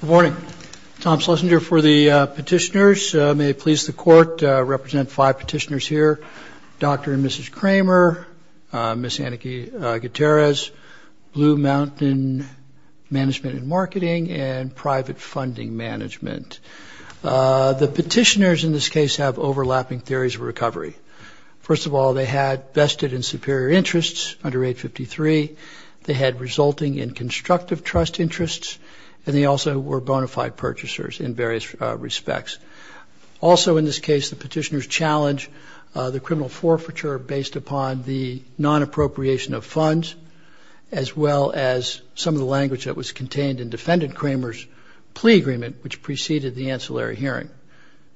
Good morning. Tom Schlesinger for the petitioners. May it please the Court to represent five petitioners here, Dr. and Mrs. Kramer, Ms. Anahi Gutierrez, Blue Mountain Management and Marketing, and Private Funding Management. The petitioners in this case have overlapping theories of recovery. First of all, they had vested and superior interests under 853. They had resulting and constructive trust interests, and they also were bona fide purchasers in various respects. Also in this case, the petitioners challenged the criminal forfeiture based upon the non-appropriation of funds, as well as some of the language that was contained in Defendant Kramer's plea agreement, which preceded the ancillary hearing.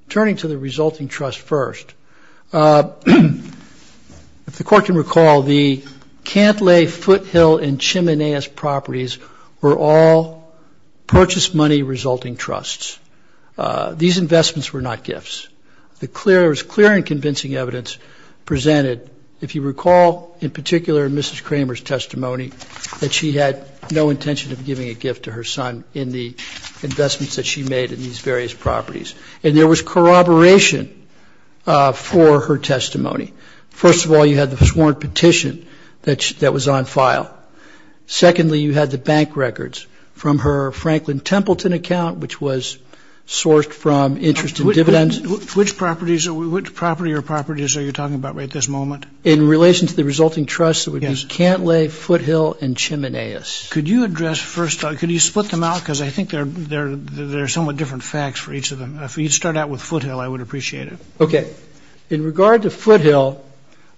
Turning to the resulting trust first, if the Court can recall, the Cantlay, Foothill, and Chimanez properties were all purchase money resulting trusts. These investments were not gifts. There was clear and convincing evidence presented, if you recall, in particular in Mrs. Kramer's testimony, that she had no intention of giving a gift to her son in the investments that she made in these various properties. And there was corroboration for her testimony. First of all, you had the sworn petition that was on file. Secondly, you had the bank records from her Franklin Templeton account, which was sourced from interest and dividends. Which property or properties are you talking about at this moment? In relation to the resulting trusts, it would be Cantlay, Foothill, and Chimanez. Could you address first? Could you split them out? Because I think they're somewhat different facts for each of them. If you'd start out with Foothill, I would appreciate it. Okay. In regard to Foothill,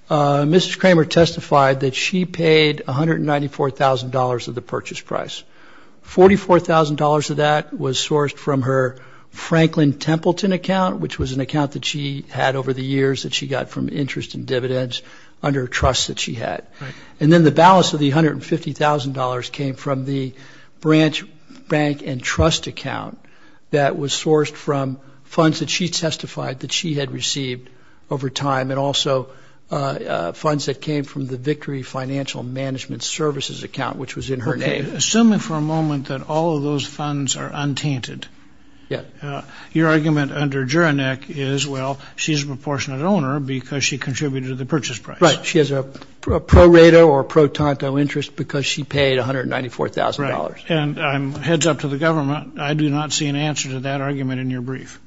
Mrs. Kramer testified that she paid $194,000 of the purchase price. $44,000 of that was sourced from her Franklin Templeton account, which was an account that she had over the years that she got from interest and dividends under a trust that she had. And then the balance of the $150,000 came from the branch bank and trust account that was sourced from funds that she testified that she had received over time and also funds that came from the Victory Financial Management Services account, which was in her name. Okay. Assuming for a moment that all of those funds are untainted, your argument under Juronek is, well, she's a proportionate owner because she contributed to the purchase price. Right. She has a pro rata or pro tanto interest because she paid $194,000. Right. And heads up to the government, I do not see an answer to that argument in your brief.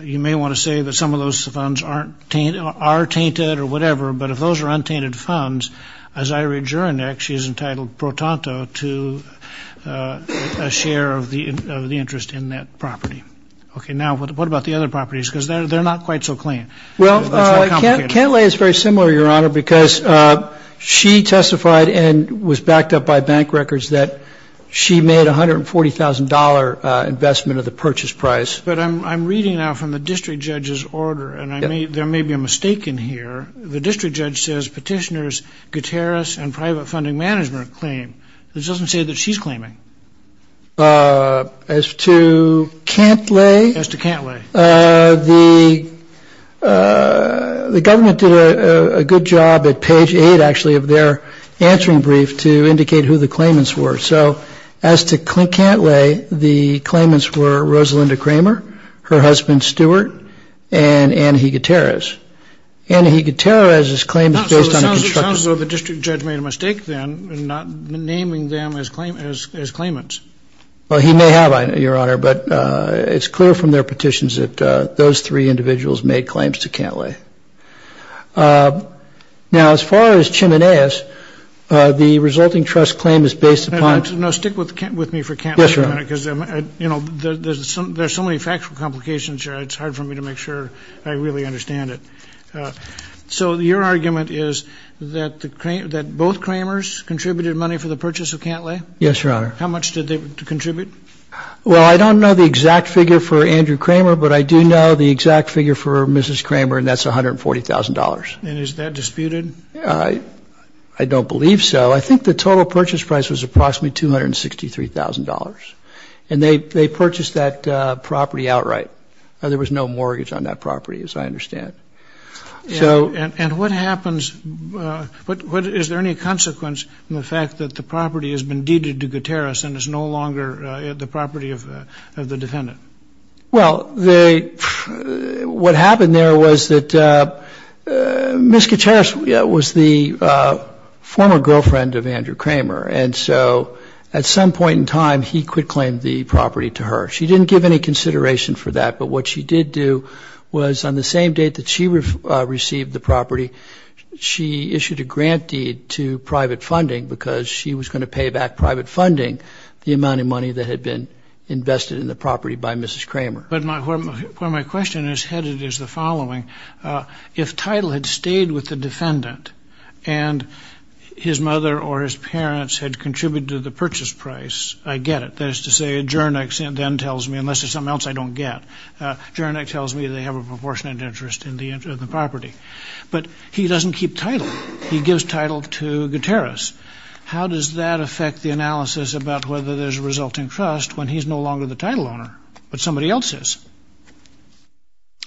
You may want to say that some of those funds are tainted or whatever, but if those are untainted funds, as I read Juronek, she is entitled pro tanto to a share of the interest in that property. Okay. Now, what about the other properties? Because they're not quite so clean. Well, Cantlay is very similar, Your Honor, because she testified and was backed up by bank records that she made $140,000 investment of the purchase price. But I'm reading now from the district judge's order, and there may be a mistake in here. The district judge says petitioners Gutierrez and Private Funding Management claim. This doesn't say that she's claiming. As to Cantlay, the government did a good job at page 8, actually, of their answering brief to indicate who the claimants were. So as to Cantlay, the claimants were Rosalinda Kramer, her husband, Stuart, and Anna Gutierrez. Anna Gutierrez's claim is based on a construction. It sounds as though the district judge made a mistake, then, in not naming them as claimants. Well, he may have, Your Honor, but it's clear from their petitions that those three individuals made claims to Cantlay. Now, as far as Chimenez, the resulting trust claim is based upon No, stick with me for Cantlay for a minute, because, you know, there's so many factual complications here, it's hard for me to make sure I really understand it. So your argument is that both Kramers contributed money for the purchase of Cantlay? Yes, Your Honor. How much did they contribute? Well, I don't know the exact figure for Andrew Kramer, but I do know the exact figure for Mrs. Kramer, and that's $140,000. And is that disputed? I don't believe so. I think the total purchase price was approximately $263,000. And they purchased that property outright. There was no mortgage on that property, as I understand. And what happens, is there any consequence in the fact that the property has been deeded to Gutierrez and is no longer the property of the defendant? Well, what happened there was that Ms. Gutierrez was the former girlfriend of Andrew Kramer, and so at some point in time, he quitclaimed the property to her. She didn't give any consideration for that, but what she did do was on the same date that she received the property, she issued a grant deed to private funding, because she was going to pay back private funding the amount of money that had been invested in the property by Mrs. Kramer. But my question is headed as the following. If Title had stayed with the defendant, and his mother or his parents had contributed to the purchase price, I get it. That is to say, Jernick then tells me, unless it's something else I don't get, Jernick tells me they have a proportionate interest in the property. But he doesn't keep Title. He gives Title to Gutierrez. How does that affect the analysis about whether there's a resulting trust when he's no longer the Title owner, but somebody else is?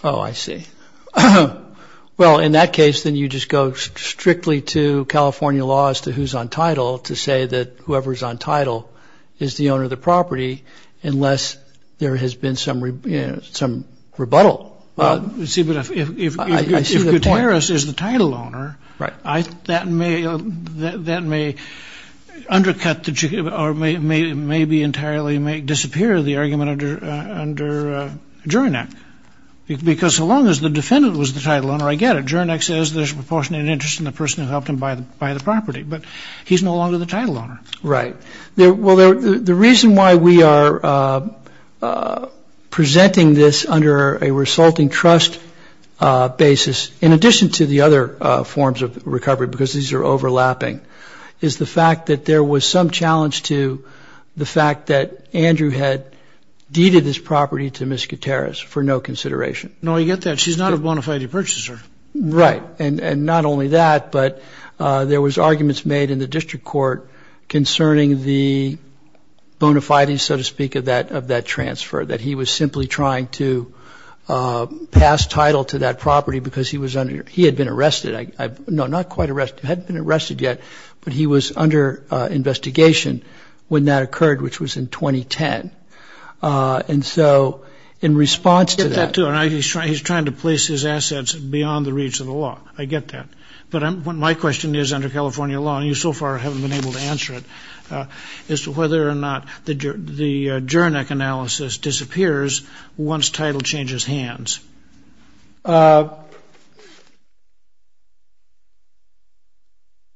Oh, I see. Well, in that case, then you just go strictly to California law as to who's on Title to say that whoever's on Title is the owner of the property, unless there has been some rebuttal. See, but if Gutierrez is the Title owner, that may undercut or maybe entirely disappear the argument under Jernick. Because so long as the defendant was the Title owner, I get it. Jernick says there's a proportionate interest in the person who helped him buy the property. But he's no longer the Title owner. Right. Well, the reason why we are presenting this under a resulting trust basis, in addition to the other forms of recovery, because these are overlapping, is the fact that there was some challenge to the fact that Andrew had deeded this property to Ms. Gutierrez for no consideration. No, I get that. She's not a bona fide purchaser. Right. And not only that, but there was arguments made in the district court concerning the bona fides, so to speak, of that transfer, that he was simply trying to pass Title to that property because he had been arrested. No, not quite arrested. He hadn't been arrested yet, but he was under investigation when that occurred, which was in 2010. And so in response to that... So he's trying to place his assets beyond the reach of the law. I get that. But my question is, under California law, and you so far haven't been able to answer it, is whether or not the Jernick analysis disappears once Title changes hands.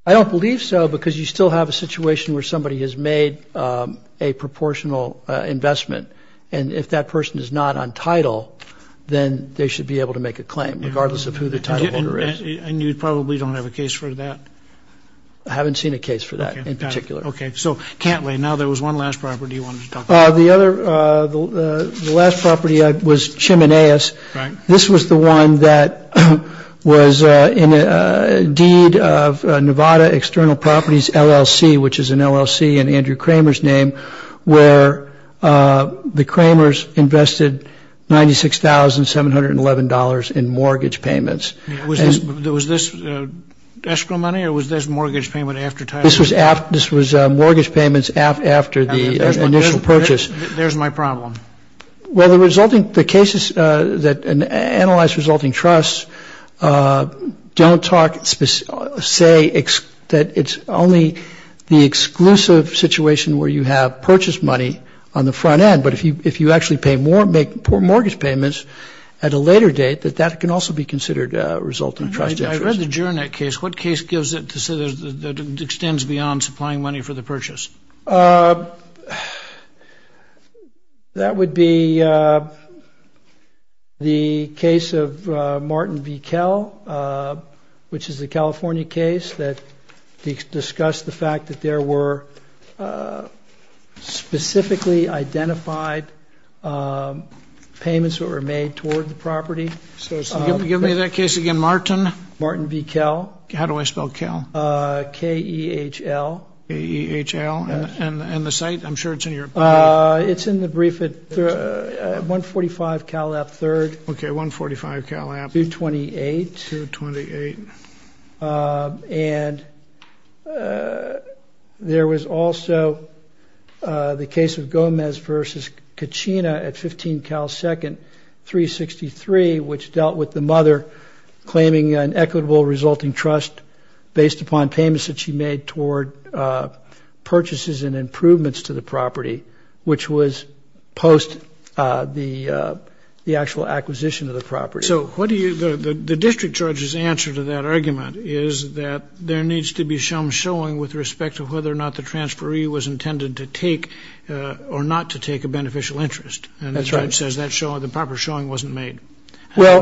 I don't believe so because you still have a situation where somebody has made a proportional investment, and if that person is not on Title, then they should be able to make a claim, regardless of who the Title holder is. And you probably don't have a case for that? I haven't seen a case for that in particular. Okay. So, Cantley, now there was one last property you wanted to talk about. The last property was Chimeneas. This was the one that was in a deed of Nevada External Properties LLC, which is an LLC in Andrew Kramer's name, where the Kramers invested $96,711 in mortgage payments. Was this escrow money, or was this mortgage payment after Title? This was mortgage payments after the initial purchase. There's my problem. Well, the resulting... The cases that analyze resulting trusts don't talk... say that it's only the exclusive situation where you have purchase money on the front end, but if you actually make mortgage payments at a later date, that that can also be considered a resulting trust interest. I read the Jernick case. What case gives it to say that it extends beyond supplying money for the purchase? That would be the case of Martin v. Kell, which is the California case that the exclusive property was in. Martin v. Kell, and I discussed the fact that there were specifically identified payments that were made toward the property. Give me that case again. Martin? Martin v. Kell. How do I spell Kell? K-E-H-L. K-E-H-L. And the site? I'm sure it's in your brief. It's in the brief at 145 Callap Third. Okay, 145 Callap. 228. 228. And there was also the case of Gomez v. Kachina at 15 Cal Second, 363, which dealt with the mother claiming an equitable resulting trust based upon payments that she made toward purchases and improvements to the property, which was post the actual acquisition of the property. So what do you, the district judge's answer to that argument is that there needs to be some showing with respect to whether or not the transferee was intended to take or not to take a beneficial interest. That's right. And the judge says the proper showing wasn't made. Well,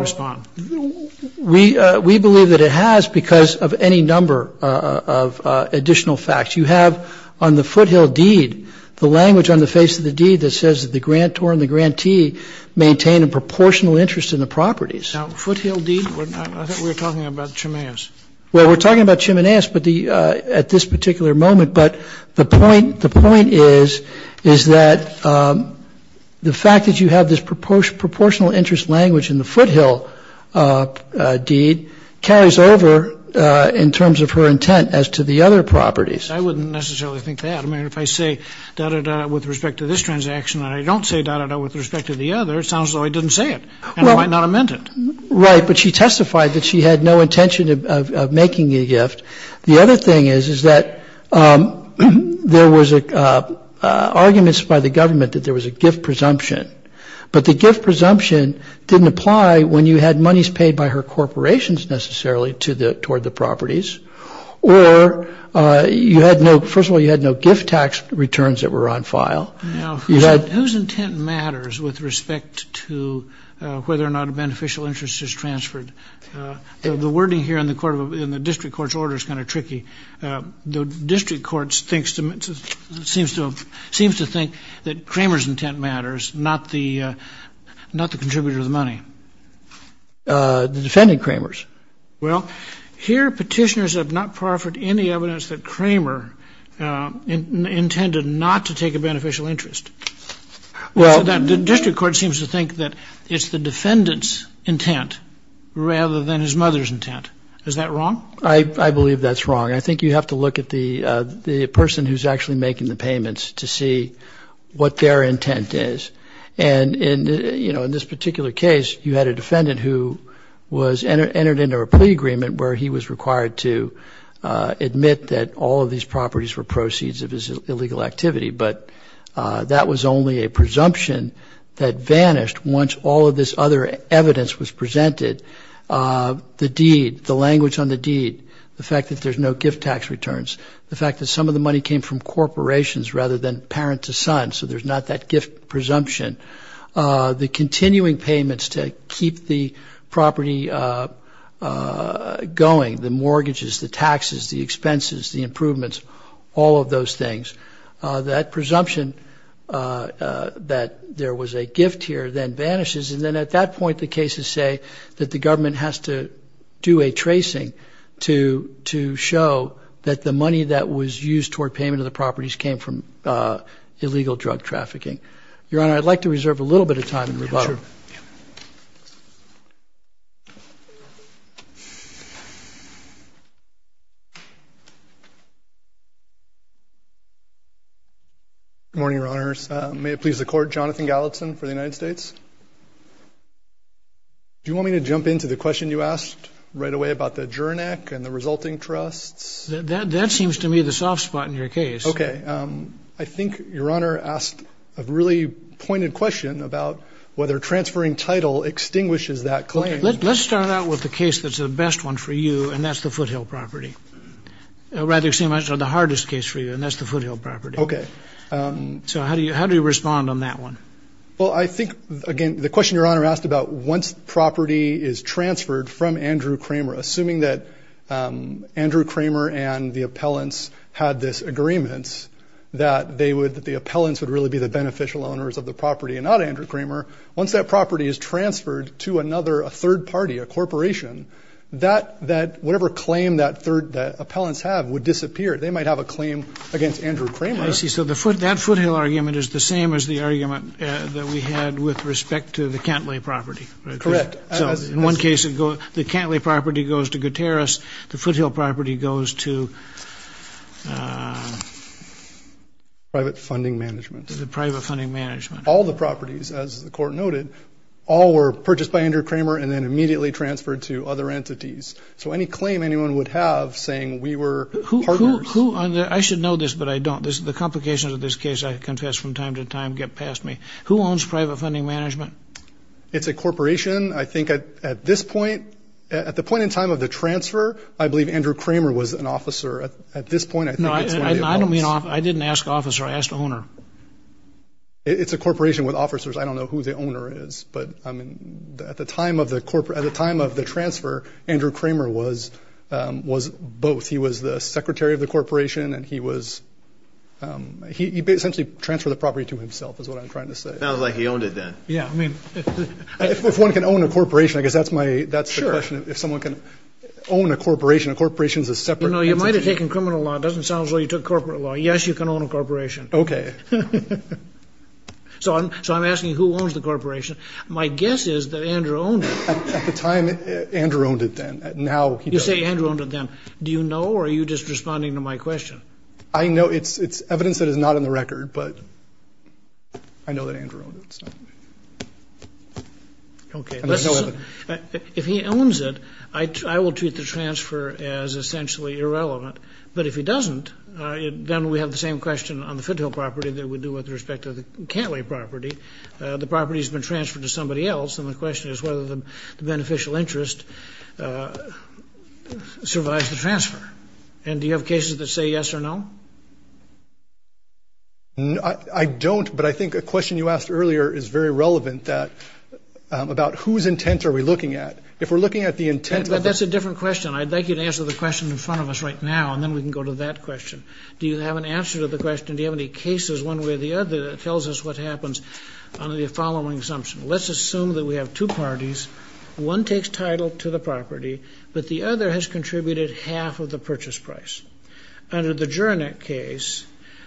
we believe that it has because of any number of additional facts. You have on the foothill deed the language on the face of the deed that says the grantor and the grantee maintain a proportional interest in the properties. Now, foothill deed, I thought we were talking about Chimaeus. Well, we're talking about Chimaeus at this particular moment. But the point is that the fact that you have this proportional interest language in the foothill deed carries over in terms of her intent as to the other properties. I wouldn't necessarily think that. I mean, if I say da-da-da with respect to this transaction and I don't say da-da-da with respect to the other, it sounds like I didn't say it. And I might not have meant it. Right. But she testified that she had no intention of making a gift. The other thing is that there was arguments by the government that there was a gift presumption. But the gift presumption didn't apply when you had monies paid by her corporations necessarily toward the properties. Or, first of all, you had no gift tax returns that were on file. Now, whose intent matters with respect to whether or not a beneficial interest is transferred? The wording here in the district court's order is kind of tricky. The district court seems to think that Cramer's intent matters, not the contributor of the money. The defendant, Cramer's. Well, here petitioners have not proffered any evidence that Cramer intended not to take a beneficial interest. The district court seems to think that it's the defendant's intent rather than his mother's intent. Is that wrong? I believe that's wrong. I think you have to look at the person who's actually making the payments to see what their intent is. And, you know, in this particular case, you had a defendant who was entered into a plea agreement where he was required to admit that all of these properties were proceeds of his illegal activity. But that was only a presumption that vanished once all of this other evidence was presented. The deed, the language on the deed, the fact that there's no gift tax returns, the fact that some of the money came from corporations rather than parent to son, so there's not that gift presumption, the continuing payments to keep the property going, the mortgages, the taxes, the expenses, the improvements, all of those things, that presumption that there was a gift here then vanishes. And then at that point the cases say that the government has to do a tracing to show that the money that was used toward payment of the properties came from illegal drug trafficking. Your Honor, I'd like to reserve a little bit of time and rebuttal. Sure. Good morning, Your Honors. May it please the Court, Jonathan Gallatin for the United States. Do you want me to jump into the question you asked right away about the Jurenek and the resulting trusts? That seems to me the soft spot in your case. Okay. I think Your Honor asked a really pointed question about whether transferring title extinguishes that claim. Okay. Let's start out with the case that's the best one for you, and that's the Foothill property. Or rather, the hardest case for you, and that's the Foothill property. Okay. So how do you respond on that one? Well, I think, again, the question Your Honor asked about once property is transferred from Andrew Kramer, assuming that Andrew Kramer and the appellants had this agreement that they would, that the appellants would really be the beneficial owners of the property and not Andrew Kramer, once that property is transferred to another, a third party, a corporation, that whatever claim that appellants have would disappear. They might have a claim against Andrew Kramer. I see. So that Foothill argument is the same as the argument that we had with respect to the Cantlie property. Correct. In one case, the Cantlie property goes to Gutierrez. The Foothill property goes to private funding management. The private funding management. All the properties, as the court noted, all were purchased by Andrew Kramer and then immediately transferred to other entities. So any claim anyone would have saying we were partners. I should know this, but I don't. The complications of this case, I confess, from time to time get past me. Who owns private funding management? It's a corporation. I think at this point, at the point in time of the transfer, I believe Andrew Kramer was an officer. At this point, I think it's one of the appellants. No, I don't mean officer. I didn't ask officer. I asked owner. It's a corporation with officers. I don't know who the owner is. But, I mean, at the time of the transfer, Andrew Kramer was both. He was the secretary of the corporation and he was, he essentially transferred the property to himself, is what I'm trying to say. Sounds like he owned it then. Yeah. If one can own a corporation, I guess that's my, that's the question. Sure. If someone can own a corporation, a corporation is a separate entity. You know, you might have taken criminal law. It doesn't sound as though you took corporate law. Yes, you can own a corporation. Okay. So I'm asking who owns the corporation. My guess is that Andrew owned it. At the time, Andrew owned it then. Now he doesn't. You say Andrew owned it then. Do you know or are you just responding to my question? I know it's evidence that is not on the record, but I know that Andrew owned it. Okay. If he owns it, I will treat the transfer as essentially irrelevant. But if he doesn't, then we have the same question on the Fithill property that we do with respect to the Cantley property. The property has been transferred to somebody else, and the question is whether the beneficial interest survives the transfer. And do you have cases that say yes or no? No, I don't, but I think a question you asked earlier is very relevant, that about whose intent are we looking at. If we're looking at the intent of the question. That's a different question. I'd like you to answer the question in front of us right now, and then we can go to that question. Do you have an answer to the question? Do you have any cases, one way or the other, that tells us what happens under the following assumption? Let's assume that we have two parties. One takes title to the property, but the other has contributed half of the purchase price. Under the Juronek case,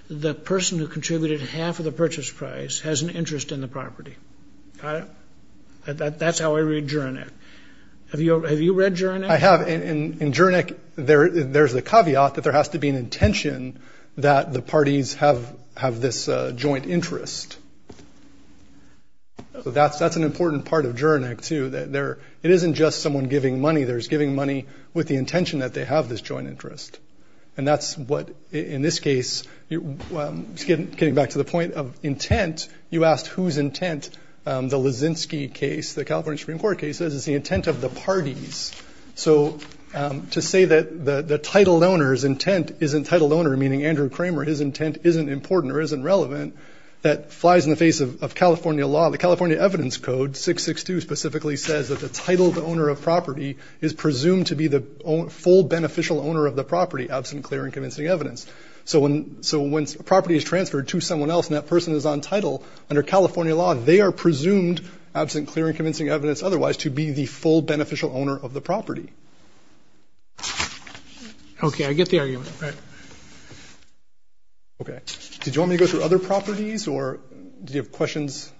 the person who contributed half of the purchase price has an interest in the property. Got it? That's how I read Juronek. Have you read Juronek? I have. In Juronek, there's a caveat that there has to be an intention that the parties have this joint interest. So that's an important part of Juronek, too. It isn't just someone giving money. There's giving money with the intention that they have this joint interest. And that's what, in this case, getting back to the point of intent, you asked whose intent the Leszczynski case, the California Supreme Court case, is the intent of the parties. So to say that the titled owner's intent isn't titled owner, meaning Andrew Kramer, his intent isn't important or isn't relevant, that flies in the face of California law. Well, the California Evidence Code, 662, specifically says that the titled owner of property is presumed to be the full beneficial owner of the property, absent clear and convincing evidence. So when a property is transferred to someone else and that person is on title, under California law they are presumed, absent clear and convincing evidence otherwise, to be the full beneficial owner of the property. Okay, I get the argument. Okay. Did you want me to go through other properties or do you have questions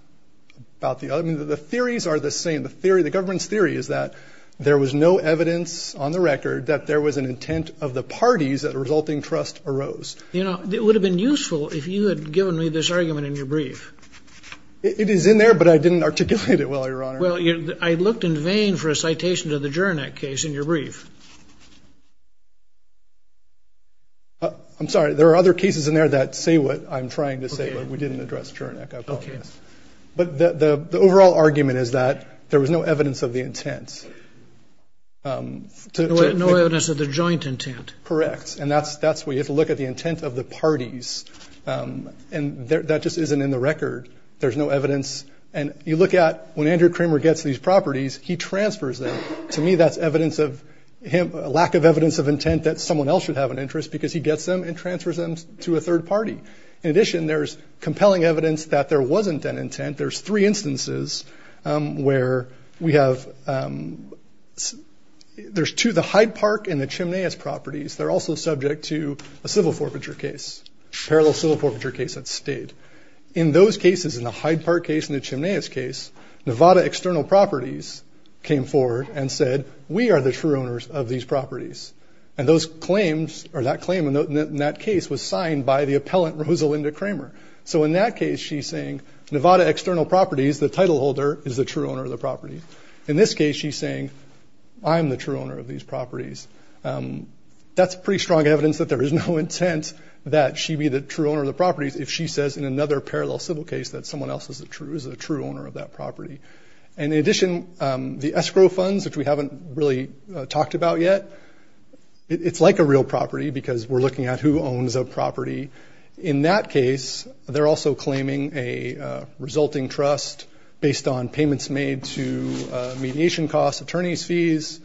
about the other? I mean, the theories are the same. The theory, the government's theory is that there was no evidence on the record that there was an intent of the parties that a resulting trust arose. You know, it would have been useful if you had given me this argument in your brief. It is in there, but I didn't articulate it well, Your Honor. Well, I looked in vain for a citation to the Jurenek case in your brief. I'm sorry. There are other cases in there that say what I'm trying to say, but we didn't address Jurenek, I apologize. Okay. But the overall argument is that there was no evidence of the intent. No evidence of the joint intent. Correct. And that's where you have to look at the intent of the parties. And that just isn't in the record. There's no evidence. And you look at when Andrew Kramer gets these properties, he transfers them. To me, that's evidence of lack of evidence of intent that someone else should have an interest because he gets them and transfers them to a third party. In addition, there's compelling evidence that there wasn't an intent. There's three instances where we have – there's two, the Hyde Park and the Chimneyas properties. They're also subject to a civil forfeiture case, parallel civil forfeiture case at State. In those cases, in the Hyde Park case and the Chimneyas case, Nevada External Properties came forward and said, we are the true owners of these properties. And those claims – or that claim in that case was signed by the appellant, Rosalinda Kramer. So in that case, she's saying, Nevada External Properties, the title holder, is the true owner of the property. In this case, she's saying, I'm the true owner of these properties. That's pretty strong evidence that there is no intent that she be the true owner of the properties if she says in another parallel civil case that someone else is a true owner of that property. And in addition, the escrow funds, which we haven't really talked about yet, it's like a real property because we're looking at who owns a property. In that case, they're also claiming a resulting trust based on payments made to mediation costs, attorney's fees.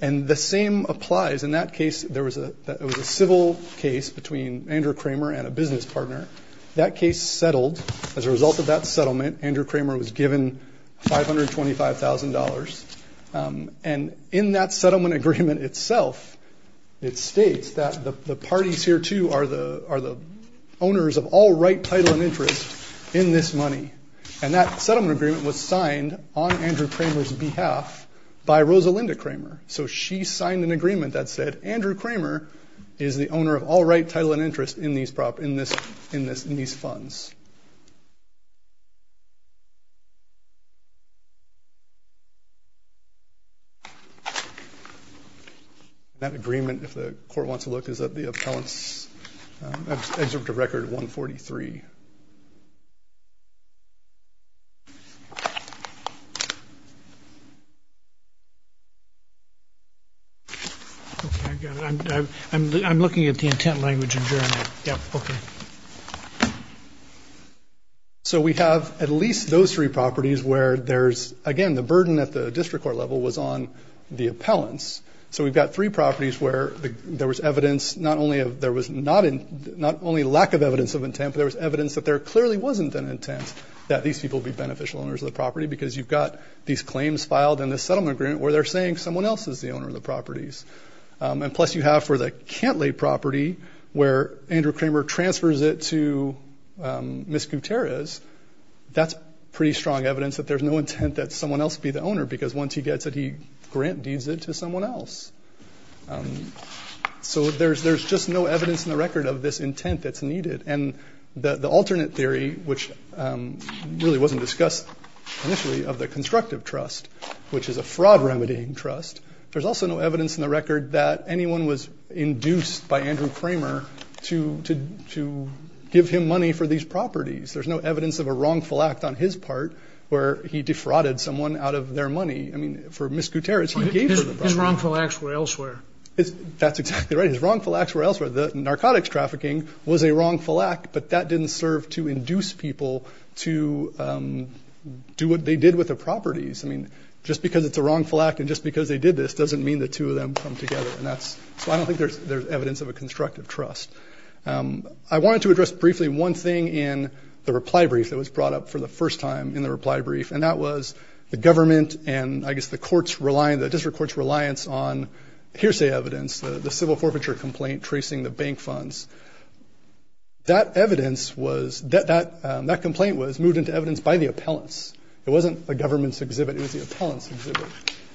And the same applies. In that case, there was a – it was a civil case between Andrew Kramer and a business partner. That case settled. As a result of that settlement, Andrew Kramer was given $525,000. And in that settlement agreement itself, it states that the parties here, too, are the owners of all right, title, and interest in this money. And that settlement agreement was signed on Andrew Kramer's behalf by Rosalinda Kramer. So she signed an agreement that said, Andrew Kramer is the owner of all right, title, and interest in these – in these funds. And that agreement, if the court wants to look, is that the appellant's executive record 143. Okay, I got it. I'm looking at the intent language adjournment. Yeah, okay. So we have at least those three properties where there's – again, the burden at the district court level was on the appellants. So we've got three properties where there was evidence not only of – there was not only lack of evidence of intent, but there was evidence that there clearly wasn't an intent that these people would be beneficial owners of the property because you've got these claims filed in the settlement agreement where they're saying someone else is the owner of the properties. And plus you have for the Cantlay property where Andrew Kramer transfers it to Ms. Gutierrez, that's pretty strong evidence that there's no intent that someone else be the owner because once he gets it, he grant deeds it to someone else. So there's just no evidence in the record of this intent that's needed. And the alternate theory, which really wasn't discussed initially, of the constructive trust, which is a fraud-remedying trust, there's also no evidence in the record that anyone was induced by Andrew Kramer to give him money for these properties. There's no evidence of a wrongful act on his part where he defrauded someone out of their money. I mean, for Ms. Gutierrez, he gave her the property. His wrongful acts were elsewhere. That's exactly right. His wrongful acts were elsewhere. The narcotics trafficking was a wrongful act, but that didn't serve to induce people to do what they did with the properties. I mean, just because it's a wrongful act and just because they did this doesn't mean the two of them come together. And that's why I don't think there's evidence of a constructive trust. I wanted to address briefly one thing in the reply brief that was brought up for the first time in the reply brief, and that was the government and, I guess, the court's reliance, the district court's reliance on hearsay evidence, the civil forfeiture complaint tracing the bank funds. That evidence was – that complaint was moved into evidence by the appellants. It wasn't the government's exhibit. It was the appellant's exhibit.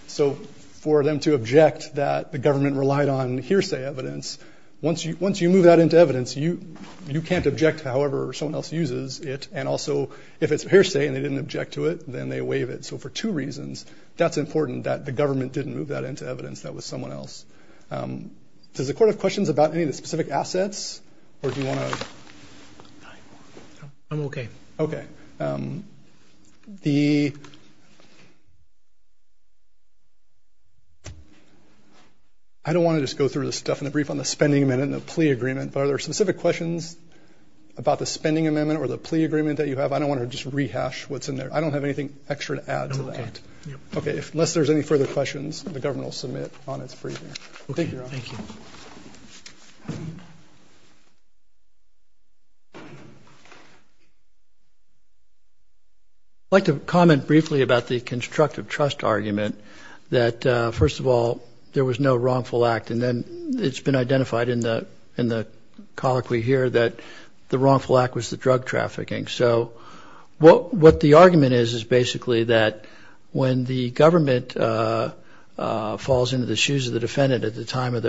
So for them to object that the government relied on hearsay evidence, once you move that into evidence, you can't object to however someone else uses it. And also, if it's hearsay and they didn't object to it, then they waive it. So for two reasons, that's important that the government didn't move that into evidence. That was someone else. Does the court have questions about any of the specific assets, or do you want to – I'm okay. Okay. The – I don't want to just go through this stuff in the brief on the spending amendment and the plea agreement, but are there specific questions about the spending amendment or the plea agreement that you have? I don't want to just rehash what's in there. I don't have anything extra to add to that. I'm okay. Okay, unless there's any further questions, the government will submit on its briefing. Okay, thank you. Thank you, Your Honor. I'd like to comment briefly about the constructive trust argument that, first of all, there was no wrongful act. And then it's been identified in the colloquy here that the wrongful act was the drug trafficking. So what the argument is is basically that when the government falls into the shoes of the defendant at the time of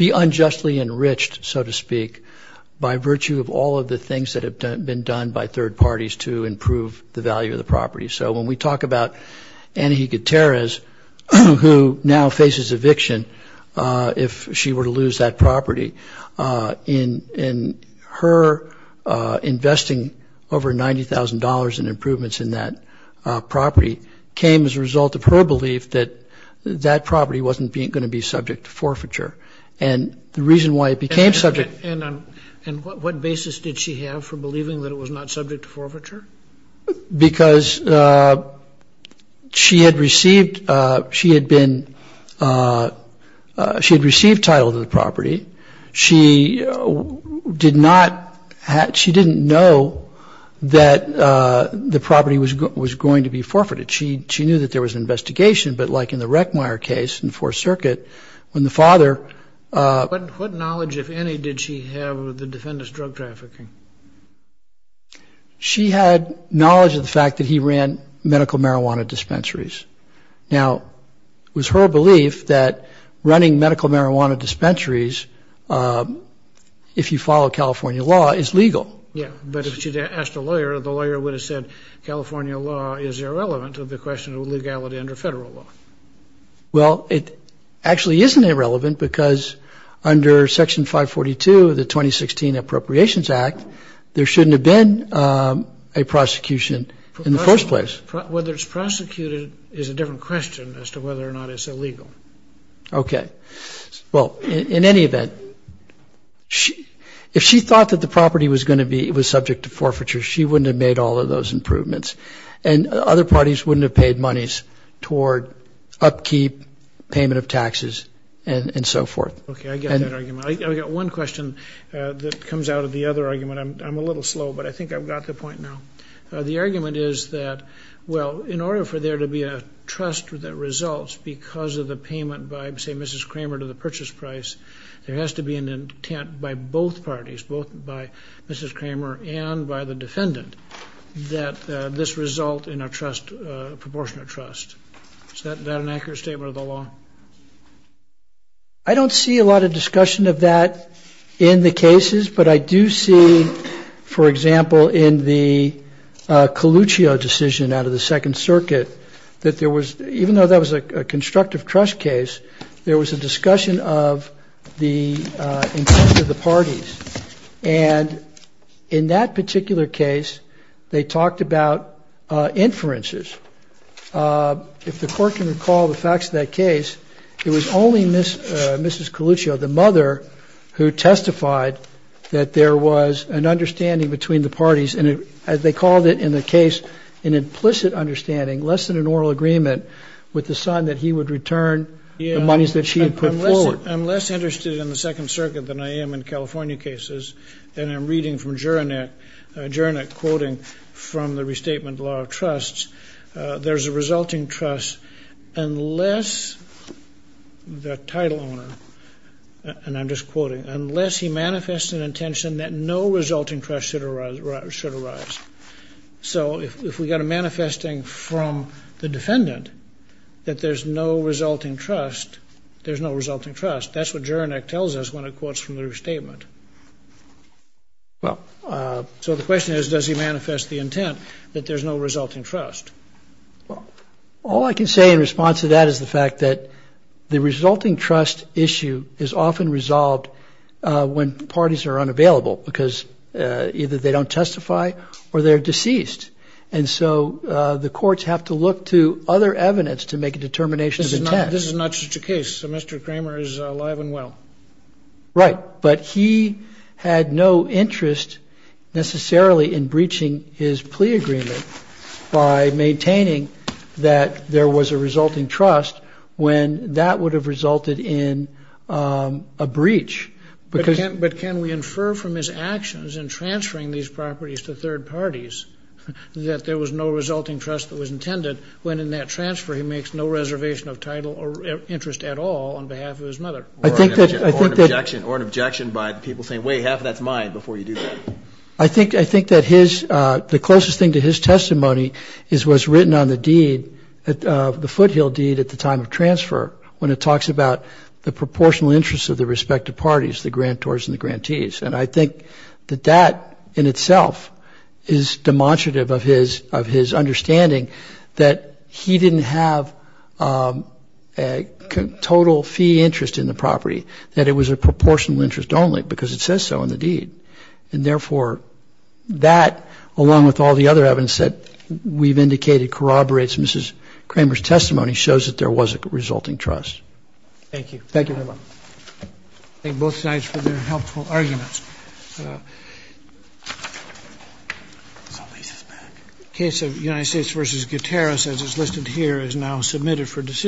the unjustly enriched, so to speak, by virtue of all of the things that have been done by third parties to improve the value of the property. So when we talk about Anahita Torres, who now faces eviction if she were to lose that property, her investing over $90,000 in improvements in that property came as a result of her belief that that property wasn't going to be subject to forfeiture. And the reason why it became subject... And what basis did she have for believing that it was not subject to forfeiture? Because she had received title to the property. She didn't know that the property was going to be forfeited. She knew that there was an investigation. But like in the Reckmeyer case in the Fourth Circuit, when the father... What knowledge, if any, did she have of the defendant's drug trafficking? She had knowledge of the fact that he ran medical marijuana dispensaries. Now, it was her belief that running medical marijuana dispensaries, if you follow California law, is legal. Yeah, but if she'd asked a lawyer, the lawyer would have said California law is irrelevant to the question of legality under federal law. Well, it actually isn't irrelevant because under Section 542 of the 2016 Appropriations Act, there shouldn't have been a prosecution in the first place. Whether it's prosecuted is a different question as to whether or not it's illegal. Okay. Well, in any event, if she thought that the property was going to be subject to forfeiture, she wouldn't have made all of those improvements. And other parties wouldn't have paid monies toward upkeep, payment of taxes, and so forth. Okay, I get that argument. I've got one question that comes out of the other argument. I'm a little slow, but I think I've got the point now. The argument is that, well, in order for there to be a trust that results because of the payment by, say, Mrs. Kramer to the purchase price, there has to be an intent by both parties, both by Mrs. Kramer and by the defendant, that this result in a proportionate trust. Is that an accurate statement of the law? I don't see a lot of discussion of that in the cases, but I do see, for example, in the Coluccio decision out of the Second Circuit that there was, even though that was a constructive trust case, there was a discussion of the intent of the parties. And in that particular case, they talked about inferences. If the Court can recall the facts of that case, it was only Mrs. Coluccio, the mother, who testified that there was an understanding between the parties, and they called it in the case an implicit understanding, less than an oral agreement with the sign that he would return the monies that she had put forward. I'm less interested in the Second Circuit than I am in California cases, and I'm reading from Jurenek, Jurenek quoting from the Restatement Law of Trusts, there's a resulting trust unless the title owner, and I'm just quoting, unless he manifests an intention that no resulting trust should arise. So if we've got a manifesting from the defendant that there's no resulting trust, there's no resulting trust. That's what Jurenek tells us when it quotes from the Restatement. So the question is, does he manifest the intent that there's no resulting trust? All I can say in response to that is the fact that the resulting trust issue is often resolved when parties are unavailable, because either they don't testify or they're deceased, and so the courts have to look to other evidence to make a determination of intent. This is not such a case. Mr. Kramer is alive and well. Right, but he had no interest necessarily in breaching his plea agreement by maintaining that there was a resulting trust when that would have resulted in a breach. But can we infer from his actions in transferring these properties to third parties that there was no resulting trust that was intended when, in that transfer, he makes no reservation of title or interest at all on behalf of his mother? Or an objection by the people saying, wait, half of that's mine, before you do that. I think that the closest thing to his testimony was written on the deed, the Foothill deed, at the time of transfer, when it talks about the proportional interest of the respective parties, the grantors and the grantees. And I think that that in itself is demonstrative of his understanding that he didn't have total fee interest in the property, that it was a proportional interest only, because it says so in the deed. And therefore, that, along with all the other evidence that we've indicated corroborates Mrs. Kramer's testimony, shows that there was a resulting trust. Thank you. Thank you very much. I thank both sides for their helpful arguments. The case of United States v. Gutierrez, as is listed here, is now submitted for decision.